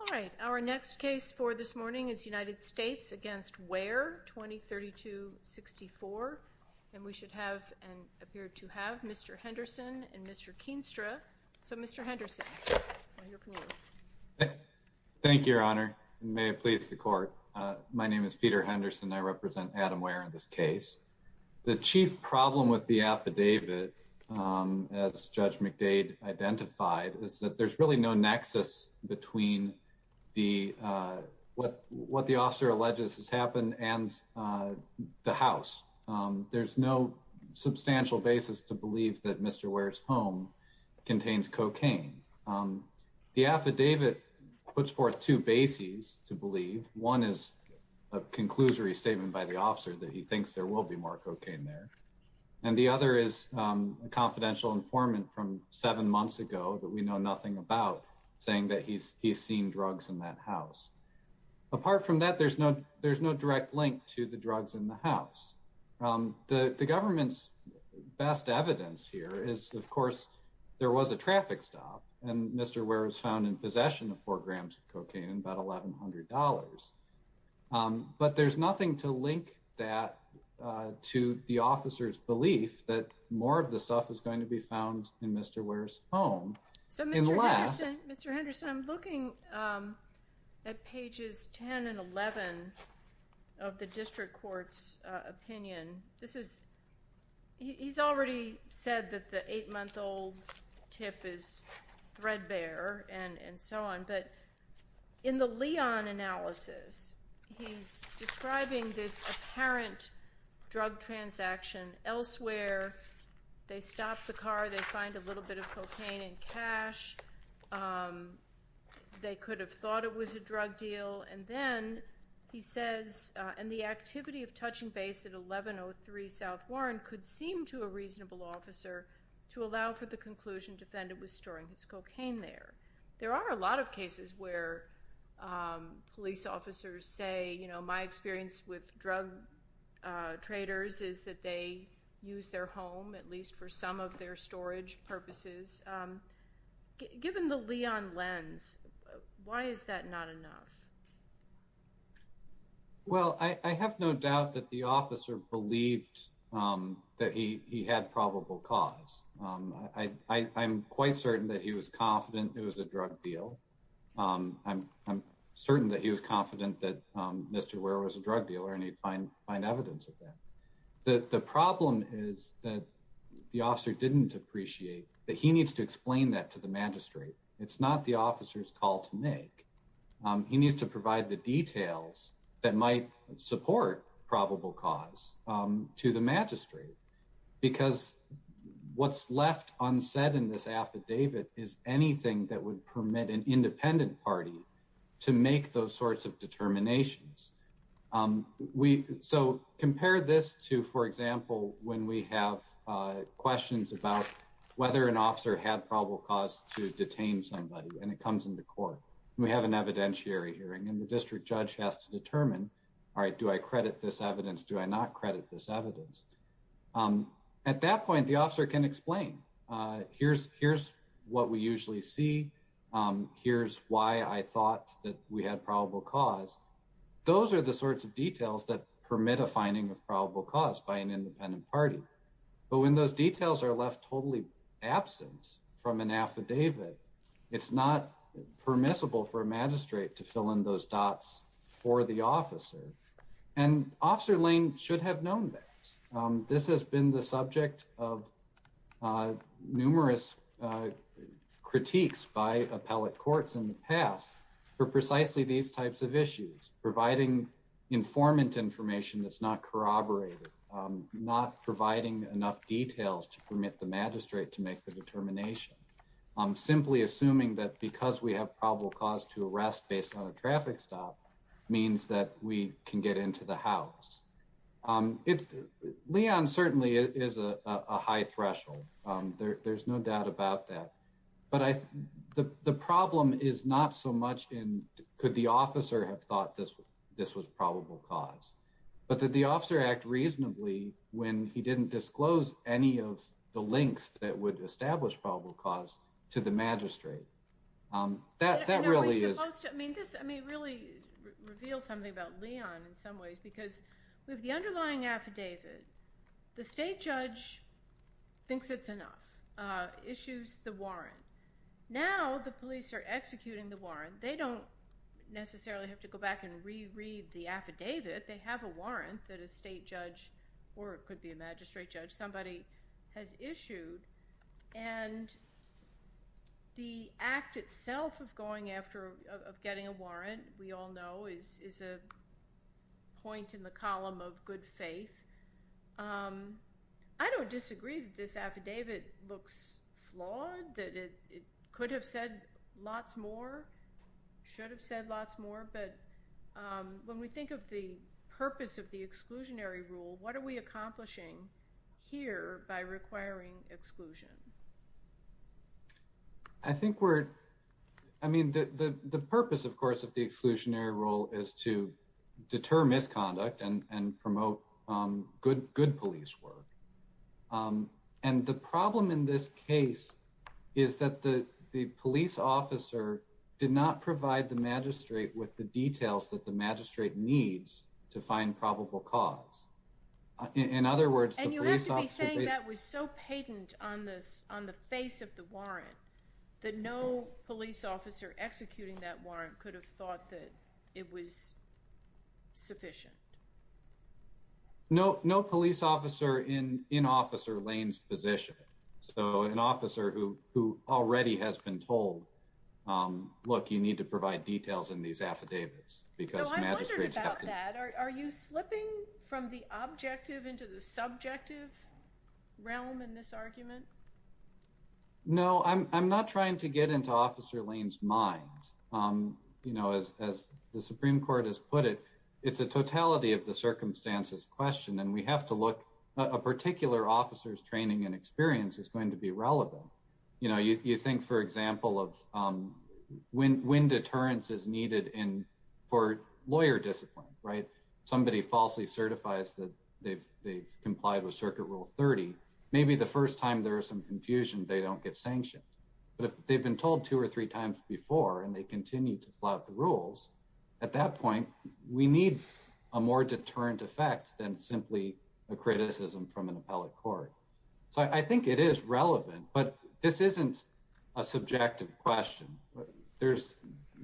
All right our next case for this morning is United States against Ware 2032-64 and we should have and appear to have Mr. Henderson and Mr. Keenstra. So Mr. Henderson. Thank you Your Honor. May it please the court. My name is Peter Henderson. I represent Adam Ware in this case. The chief problem with the case is that there is no substantial basis between what the officer alleges has happened and the house. There's no substantial basis to believe that Mr. Ware's home contains cocaine. The affidavit puts forth two bases to believe. One is a conclusory statement by the officer that he thinks there will be more cocaine there and the other is a confidential informant from seven months ago that we know nothing about saying that he's he's seen drugs in that house. Apart from that there's no there's no direct link to the drugs in the house. The government's best evidence here is of course there was a traffic stop and Mr. Ware was found in possession of four grams of cocaine and about $1,100. But there's nothing to link that to the officer's belief that more of the stuff is going to be found in Mr. Ware's home. So Mr. Henderson, I'm looking at pages 10 and 11 of the district court's opinion. This is he's already said that the eight-month-old tip is threadbare and and so on but in the Leon analysis he's describing this apparent drug transaction elsewhere they stopped the car they find a little bit of cocaine and cash they could have thought it was a drug deal and then he says and the activity of touching base at 1103 South Warren could seem to a reasonable officer to allow for the conclusion defendant was storing his cocaine there. There are a lot of cases where police officers say you know my experience with drug traders is that they use their home at least for some of their storage purposes. Given the Leon lens why is that not enough? Well I have no doubt that the officer believed that he had probable cause. I'm quite certain that he was confident it was a drug deal. I'm certain that he was confident that Mr. Ware was a drug dealer and he'd find find evidence of that. The problem is that the officer didn't appreciate that he needs to explain that to the magistrate. It's not the officer's call to make. He needs to provide the details that might support probable cause to the magistrate because what's left unsaid in this affidavit is anything that would permit an independent party to make those sorts of determinations. So compare this to for example when we have questions about whether an officer had probable cause to detain somebody and it comes in the court. We have an evidentiary hearing and the district judge has to determine all right do I credit this evidence do I not credit this evidence. At that point the officer can explain here's here's what we usually see. Here's why I thought that we had probable cause. Those are the sorts of details that permit a finding of probable cause by an independent party. But when those details are left totally absent from an affidavit it's not permissible for a magistrate to fill in those dots for the officer and Officer Lane should have known that. This has been the subject of numerous critiques by appellate courts in the past for precisely these types of issues providing informant information that's not corroborated not providing enough details to permit the magistrate to make the determination. Simply assuming that because we have probable cause to arrest based on a traffic stop means that we can get into the house. Um it's Leon certainly is a high threshold. Um there's no doubt about that. But I the problem is not so much in could the officer have thought this this was probable cause but that the officer act reasonably when he didn't disclose any of the links that would establish probable cause to the magistrate. Um that that really is I guess I mean really reveal something about Leon in some ways because we have the underlying affidavit. The state judge thinks it's enough issues the warrant. Now the police are executing the warrant. They don't necessarily have to go back and reread the affidavit. They have a warrant that a state judge or it could be a magistrate judge. Somebody has issued and the act itself of going after of getting a warrant we all know is is a point in the column of good faith. Um I don't disagree that this affidavit looks flawed that it could have said lots more should have said lots more. But um when we think of the purpose of the exclusionary rule, what are we I think we're I mean the purpose of course of the exclusionary role is to deter misconduct and promote um good good police work. Um And the problem in this case is that the police officer did not provide the magistrate with the details that the magistrate needs to find probable cause. In other words, and you have to be saying that was so patent on this on the face of the warrant that no police officer executing that warrant could have thought that it was sufficient. No, no police officer in in Officer Lane's position. So an officer who who already has been told um look, you need to provide details in these affidavits because magistrates, are you slipping from the objective into the subjective realm in this argument? No, I'm not trying to get into Officer Lane's mind. Um you know, as as the Supreme Court has put it, it's a totality of the circumstances question and we have to look a particular officer's training and experience is going to be relevant. You know, you think for example of um when when deterrence is needed in for lawyer discipline, right? Somebody falsely certifies that they've they've complied with circuit rule 30. Maybe the first time there is some confusion, they don't get sanctioned. But if they've been told two or three times before and they continue to flood the rules at that point, we need a more deterrent effect than simply a criticism from an appellate court. So I think it is relevant, but this isn't a subjective question. There's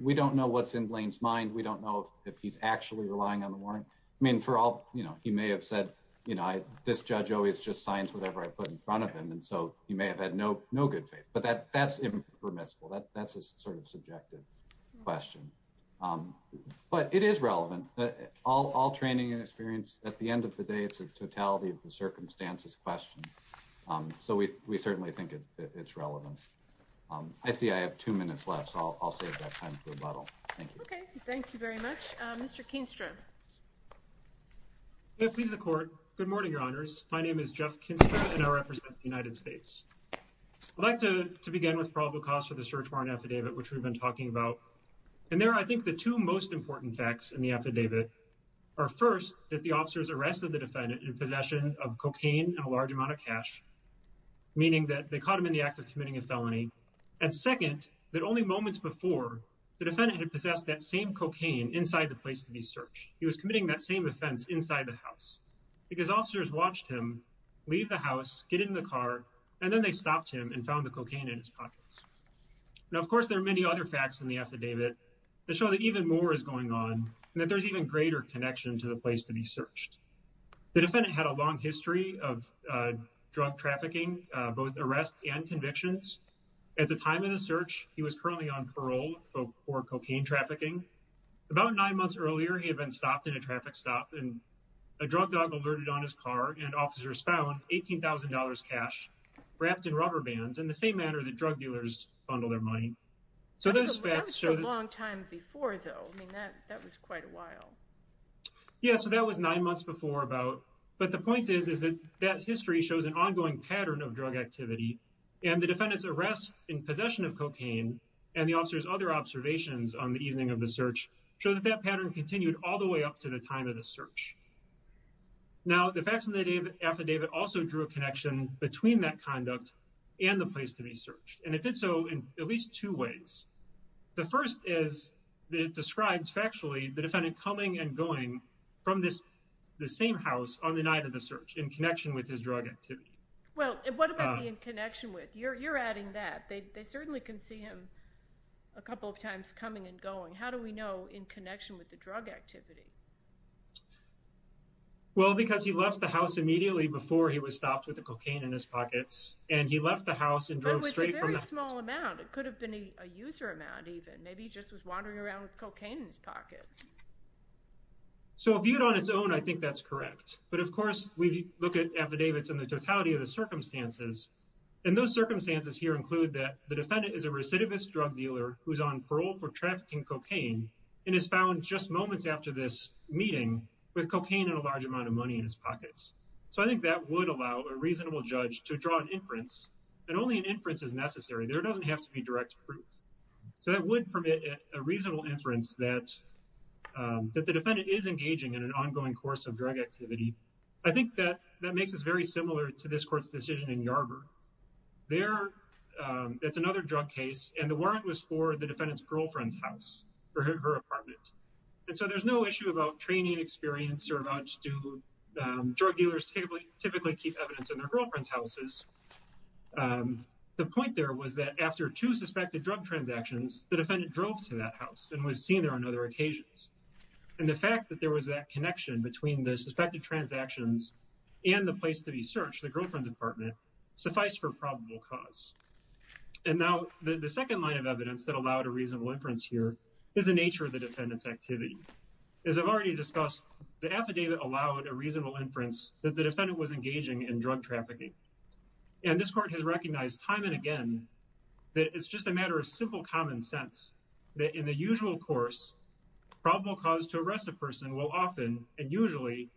we don't know what's in Blaine's mind. We don't know if he's actually relying on the warrant. I mean, for all you know, he may have said, you know, this judge always just signs whatever I put in front of him. And so you may have had no, no good faith, but that that's impermissible. That's a sort of subjective question. Um, but it is relevant. All training and experience at the end of the day. It's a totality of the circumstances question. Um, so we certainly think it's relevant. Um, I much, Mr. Kingston, please. The court. Good morning, Your Honors. My name is Jeff Kinston, and I represent the United States elected to begin with probable cause for the search warrant affidavit, which we've been talking about. And there, I think the two most important facts in the affidavit are first that the officers arrested the defendant in possession of cocaine and a large amount of cash, meaning that they caught him in the act of committing a felony and second that only moments before the defendant had possessed that same cocaine inside the place to be searched. He was committing that same offense inside the house because officers watched him leave the house, get in the car, and then they stopped him and found the cocaine in his pockets. Now, of course, there are many other facts in the affidavit that show that even more is going on and that there's even greater connection to the place to be searched. The defendant had a long history of drug trafficking, both arrests and convictions. At the time of the search, he was currently on parole for cocaine trafficking. About nine months earlier, he had been stopped in a traffic stop, and a drug dog alerted on his car, and officers found $18,000 cash wrapped in rubber bands in the same manner that drug dealers bundle their money. So those facts show that... That was a long time before, though. I mean, that was quite a while. Yeah, so that was nine months before about... But the point is, is that that history shows an ongoing pattern of drug activity, and the defendant's arrest in possession of cocaine and the officer's other observations on the evening of the search show that that pattern continued all the way up to the time of the search. Now, the facts in the affidavit also drew a connection between that conduct and the place to be searched, and it did so in at least two ways. The first is that it describes factually the defendant coming and going from this... The same house on the night of the search in connection with his drug activity. Well, what about the in connection with? You're adding that. They certainly can see him a couple of times coming and going. How do we know in connection with the drug activity? Well, because he left the house immediately before he was stopped with the cocaine in his pockets, and he left the house and drove straight from... But it was a very small amount. It could have been a user amount even. Maybe he just was wandering around with cocaine in his pocket. So viewed on its own, I think that's correct. But of course, we look at affidavits in the totality of the circumstances, and those circumstances here include that the defendant is a recidivist drug dealer who's on parole for trafficking cocaine and is found just moments after this meeting with cocaine and a large amount of money in his pockets. So I think that would allow a reasonable judge to draw an inference, and only an inference is necessary. There doesn't have to be direct proof. So that would permit a reasonable inference that the defendant is engaging in an ongoing course of drug activity. I think that that makes us very similar to this court's decision in Yarborough. There, it's another drug case, and the warrant was for the defendant's girlfriend's house, her apartment. And so there's no issue about training experience or about do drug dealers typically keep evidence in their girlfriend's houses. The point there was that after two suspected drug transactions, the defendant drove to that house and was seen there on other occasions. And the fact that there was that connection between the suspected transactions and the place to be searched, the defendant, sufficed for probable cause. And now the second line of evidence that allowed a reasonable inference here is the nature of the defendant's activity. As I've already discussed, the affidavit allowed a reasonable inference that the defendant was engaging in drug trafficking. And this court has recognized time and again that it's just a matter of simple common sense that in the usual course, probable cause to arrest a person will often and usually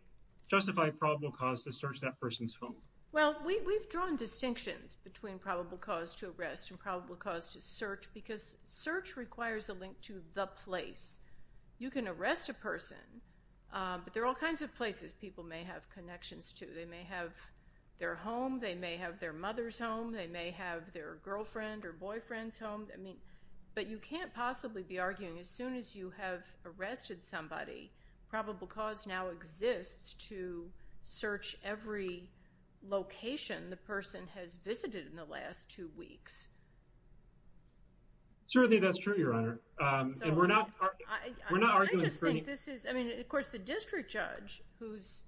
justify probable cause to search that person's home. Well, we've drawn distinctions between probable cause to arrest and probable cause to search because search requires a link to the place. You can arrest a person, but there are all kinds of places people may have connections to. They may have their home, they may have their mother's home, they may have their girlfriend or boyfriend's home. But you can't possibly be arguing as soon as you have arrested somebody, probable cause now exists to search every location the person has visited in the last two weeks. Certainly, that's true, Your Honor. And we're not arguing for any... I just think this is... Of course, the district judge, whose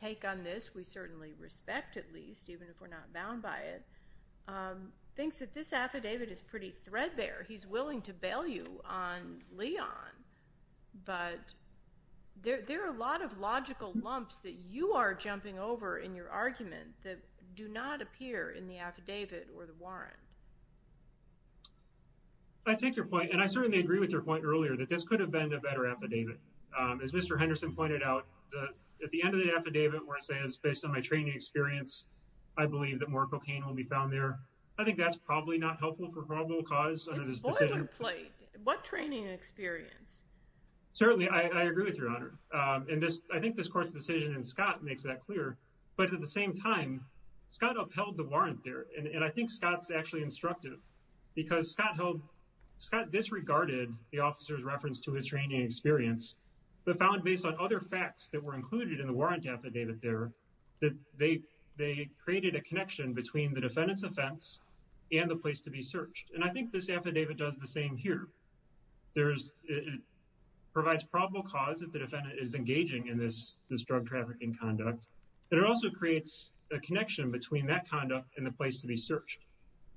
take on this we certainly respect at least, even if we're not bound by it, thinks that this affidavit is pretty threadbare. He's willing to bail you on Leon, but there are a lot of logical lumps that you are jumping over in your argument that do not appear in the affidavit or the warrant. I take your point, and I certainly agree with your point earlier, that this could have been a better affidavit. As Mr. Henderson pointed out, at the end of the affidavit where it says, based on my training experience, I believe that more cocaine will be found there. I think that's probably not helpful for probable cause. It's boilerplate. What training experience? Certainly, I agree with you, Your Honor. I think this court's decision in Scott makes that clear, but at the same time, Scott upheld the warrant there. And I think Scott's actually instructive because Scott held... Scott disregarded the officer's reference to his training experience, but found based on other facts that were included in the warrant affidavit there, that they created a connection between the defendant's offense and the place to be searched. And I think this affidavit does the same here. It provides probable cause if the defendant is engaging in this drug trafficking conduct, and it also creates a connection between that conduct and the place to be searched.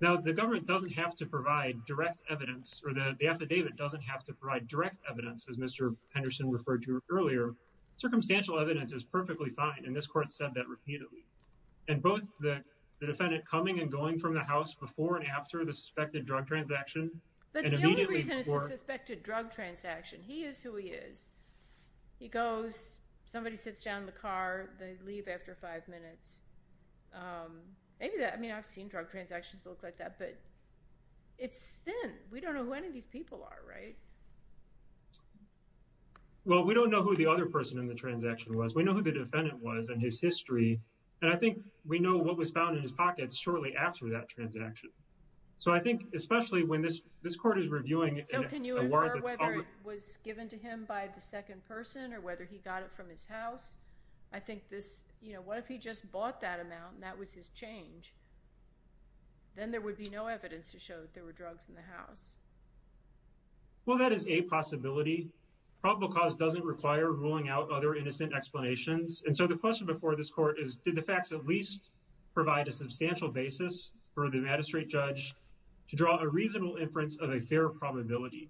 Now, the government doesn't have to provide direct evidence, or the affidavit doesn't have to provide direct evidence, as Mr. Henderson referred to earlier. Circumstantial evidence is perfectly fine, and this court said that repeatedly. And both the defendant coming and going from the house before and after the suspected drug transaction, and immediately the court... But the only reason it's a suspected drug transaction, he is who he is. He goes, somebody sits down in the car, they leave after five minutes. Maybe that... I mean, I've seen drug transactions that look like that, but it's thin. We don't know who any of these people are, right? Well, we don't know who the other person in the transaction was. We know who the defendant was and his history, and I think we know what was found in his house. I think this, you know, what if he just bought that amount, and that was his change? Then there would be no evidence to show that there were drugs in the house. Well, that is a possibility. Probable cause doesn't require ruling out other innocent explanations, and so the question before this court is, did the facts at least provide a substantial basis for the magistrate judge to draw a reasonable inference of a fair probability?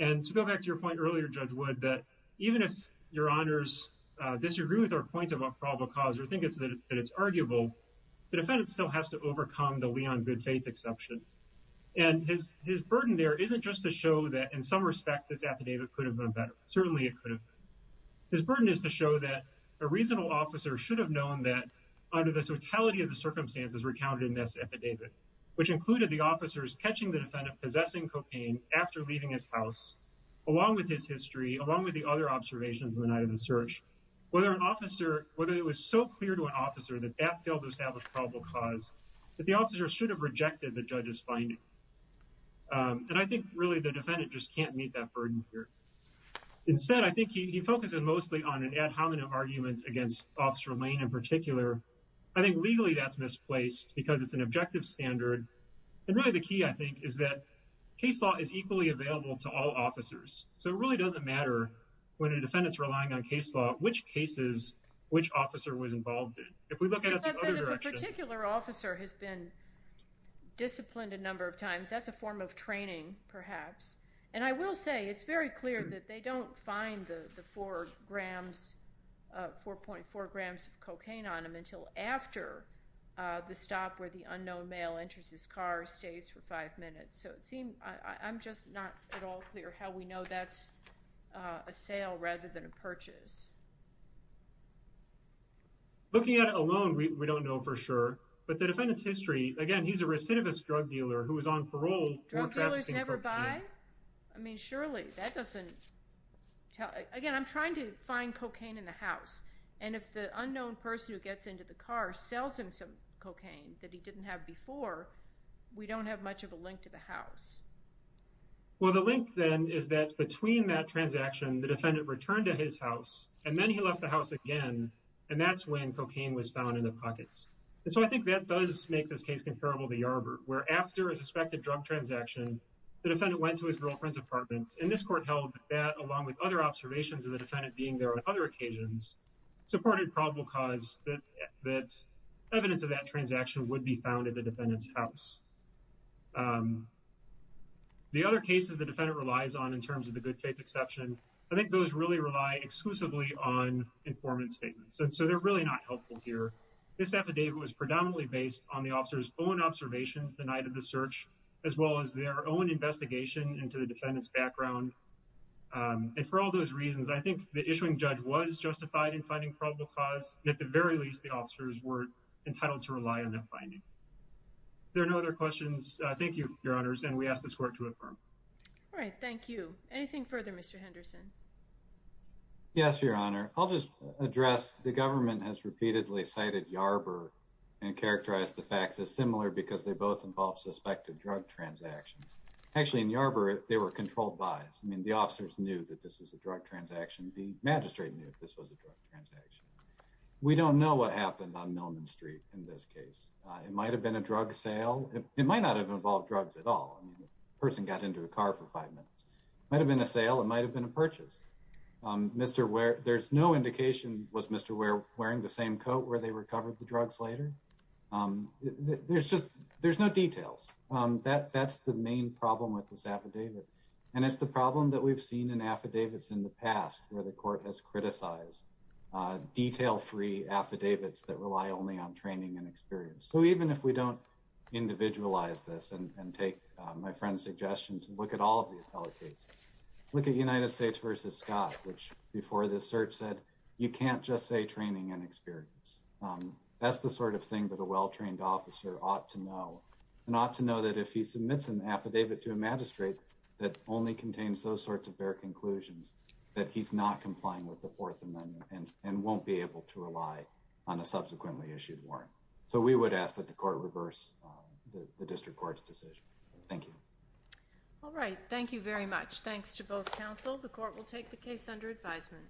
And to go back to your point earlier, Judge Wood, that even if your honors disagree with our point about probable cause or think that it's arguable, the defendant still has to overcome the Leon good faith exception. And his burden there isn't just to show that in some respect this affidavit could have been better. Certainly it could have been. His burden is to show that a reasonable officer should have known that under the totality of the circumstances recounted in this case, it included the officers catching the defendant possessing cocaine after leaving his house, along with his history, along with the other observations in the night of the search. Whether an officer, whether it was so clear to an officer that that failed to establish probable cause, that the officer should have rejected the judge's finding. And I think really the defendant just can't meet that burden here. Instead, I think he focuses mostly on an ad hominem argument against Officer Lane in particular. I think legally that's misplaced because it's an objective standard. And really the key I think is that case law is equally available to all officers. So it really doesn't matter when a defendant's relying on case law which cases which officer was involved in. If we look at it the other direction... If a particular officer has been disciplined a number of times, that's a form of training perhaps. And I will say it's very clear that they don't find the four grams... 4.4 grams of cocaine on him until after the stop where the unknown male enters his car, stays for five minutes. So it seemed... I'm just not at all clear how we know that's a sale rather than a purchase. Looking at it alone, we don't know for sure. But the defendant's history, again he's a recidivist drug dealer who was on parole... Drug dealers never buy? I mean, surely. That doesn't... Again, I'm trying to find cocaine in the house. And if the unknown person who gets into the car sells him some cocaine that he didn't have before, we don't have much of a link to the house. Well, the link then is that between that transaction, the defendant returned to his house and then he left the house again and that's when cocaine was found in the pockets. And so I think that does make this case comparable to Yarbrough where after a suspected drug transaction, the defendant went to his girlfriend's apartment. And this court held that along with other observations of the defendant being there on other occasions, supported probable cause that evidence of that transaction would be found at the defendant's house. The other cases the defendant relies on in terms of the good faith exception, I think those really rely exclusively on informant statements. And so they're really not helpful here. This affidavit was predominantly based on the officer's own observations the night of the search as well as their own investigation into the defendant's background. And for all those reasons, I think the issuing judge was justified in finding probable cause. At the very least, the officers were entitled to rely on that finding. There are no other questions. Thank you, Your Honors. And we ask this court to affirm. All right. Thank you. Anything further, Mr. Henderson? Yes, Your Honor. I'll just address the government has repeatedly cited Yarbrough and characterized the involved suspected drug transactions. Actually, in Yarbrough, they were controlled buys. I mean, the officers knew that this was a drug transaction. The magistrate knew this was a drug transaction. We don't know what happened on Millman Street in this case. It might have been a drug sale. It might not have involved drugs at all. I mean, the person got into the car for five minutes. Might have been a sale. It might have been a purchase. Mr. Ware, there's no indication was Mr. Ware wearing the same coat where they recovered the drugs later. There's just there's no details that that's the main problem with this affidavit. And it's the problem that we've seen in affidavits in the past where the court has criticized detail free affidavits that rely only on training and experience. So even if we don't individualize this and take my friend's suggestions and look at all of these other cases, look at United States versus Scott, which before the search said you can't just say training and experience. That's the sort of thing that a well-trained officer ought to know and ought to know that if he submits an affidavit to a magistrate that only contains those sorts of bare conclusions that he's not complying with the Fourth Amendment and and won't be able to rely on a subsequently issued warrant. So we would ask that the court reverse the district court's decision. Thank you. All right. Thank you very much. Thanks to both counsel. The court will take the case under advisement.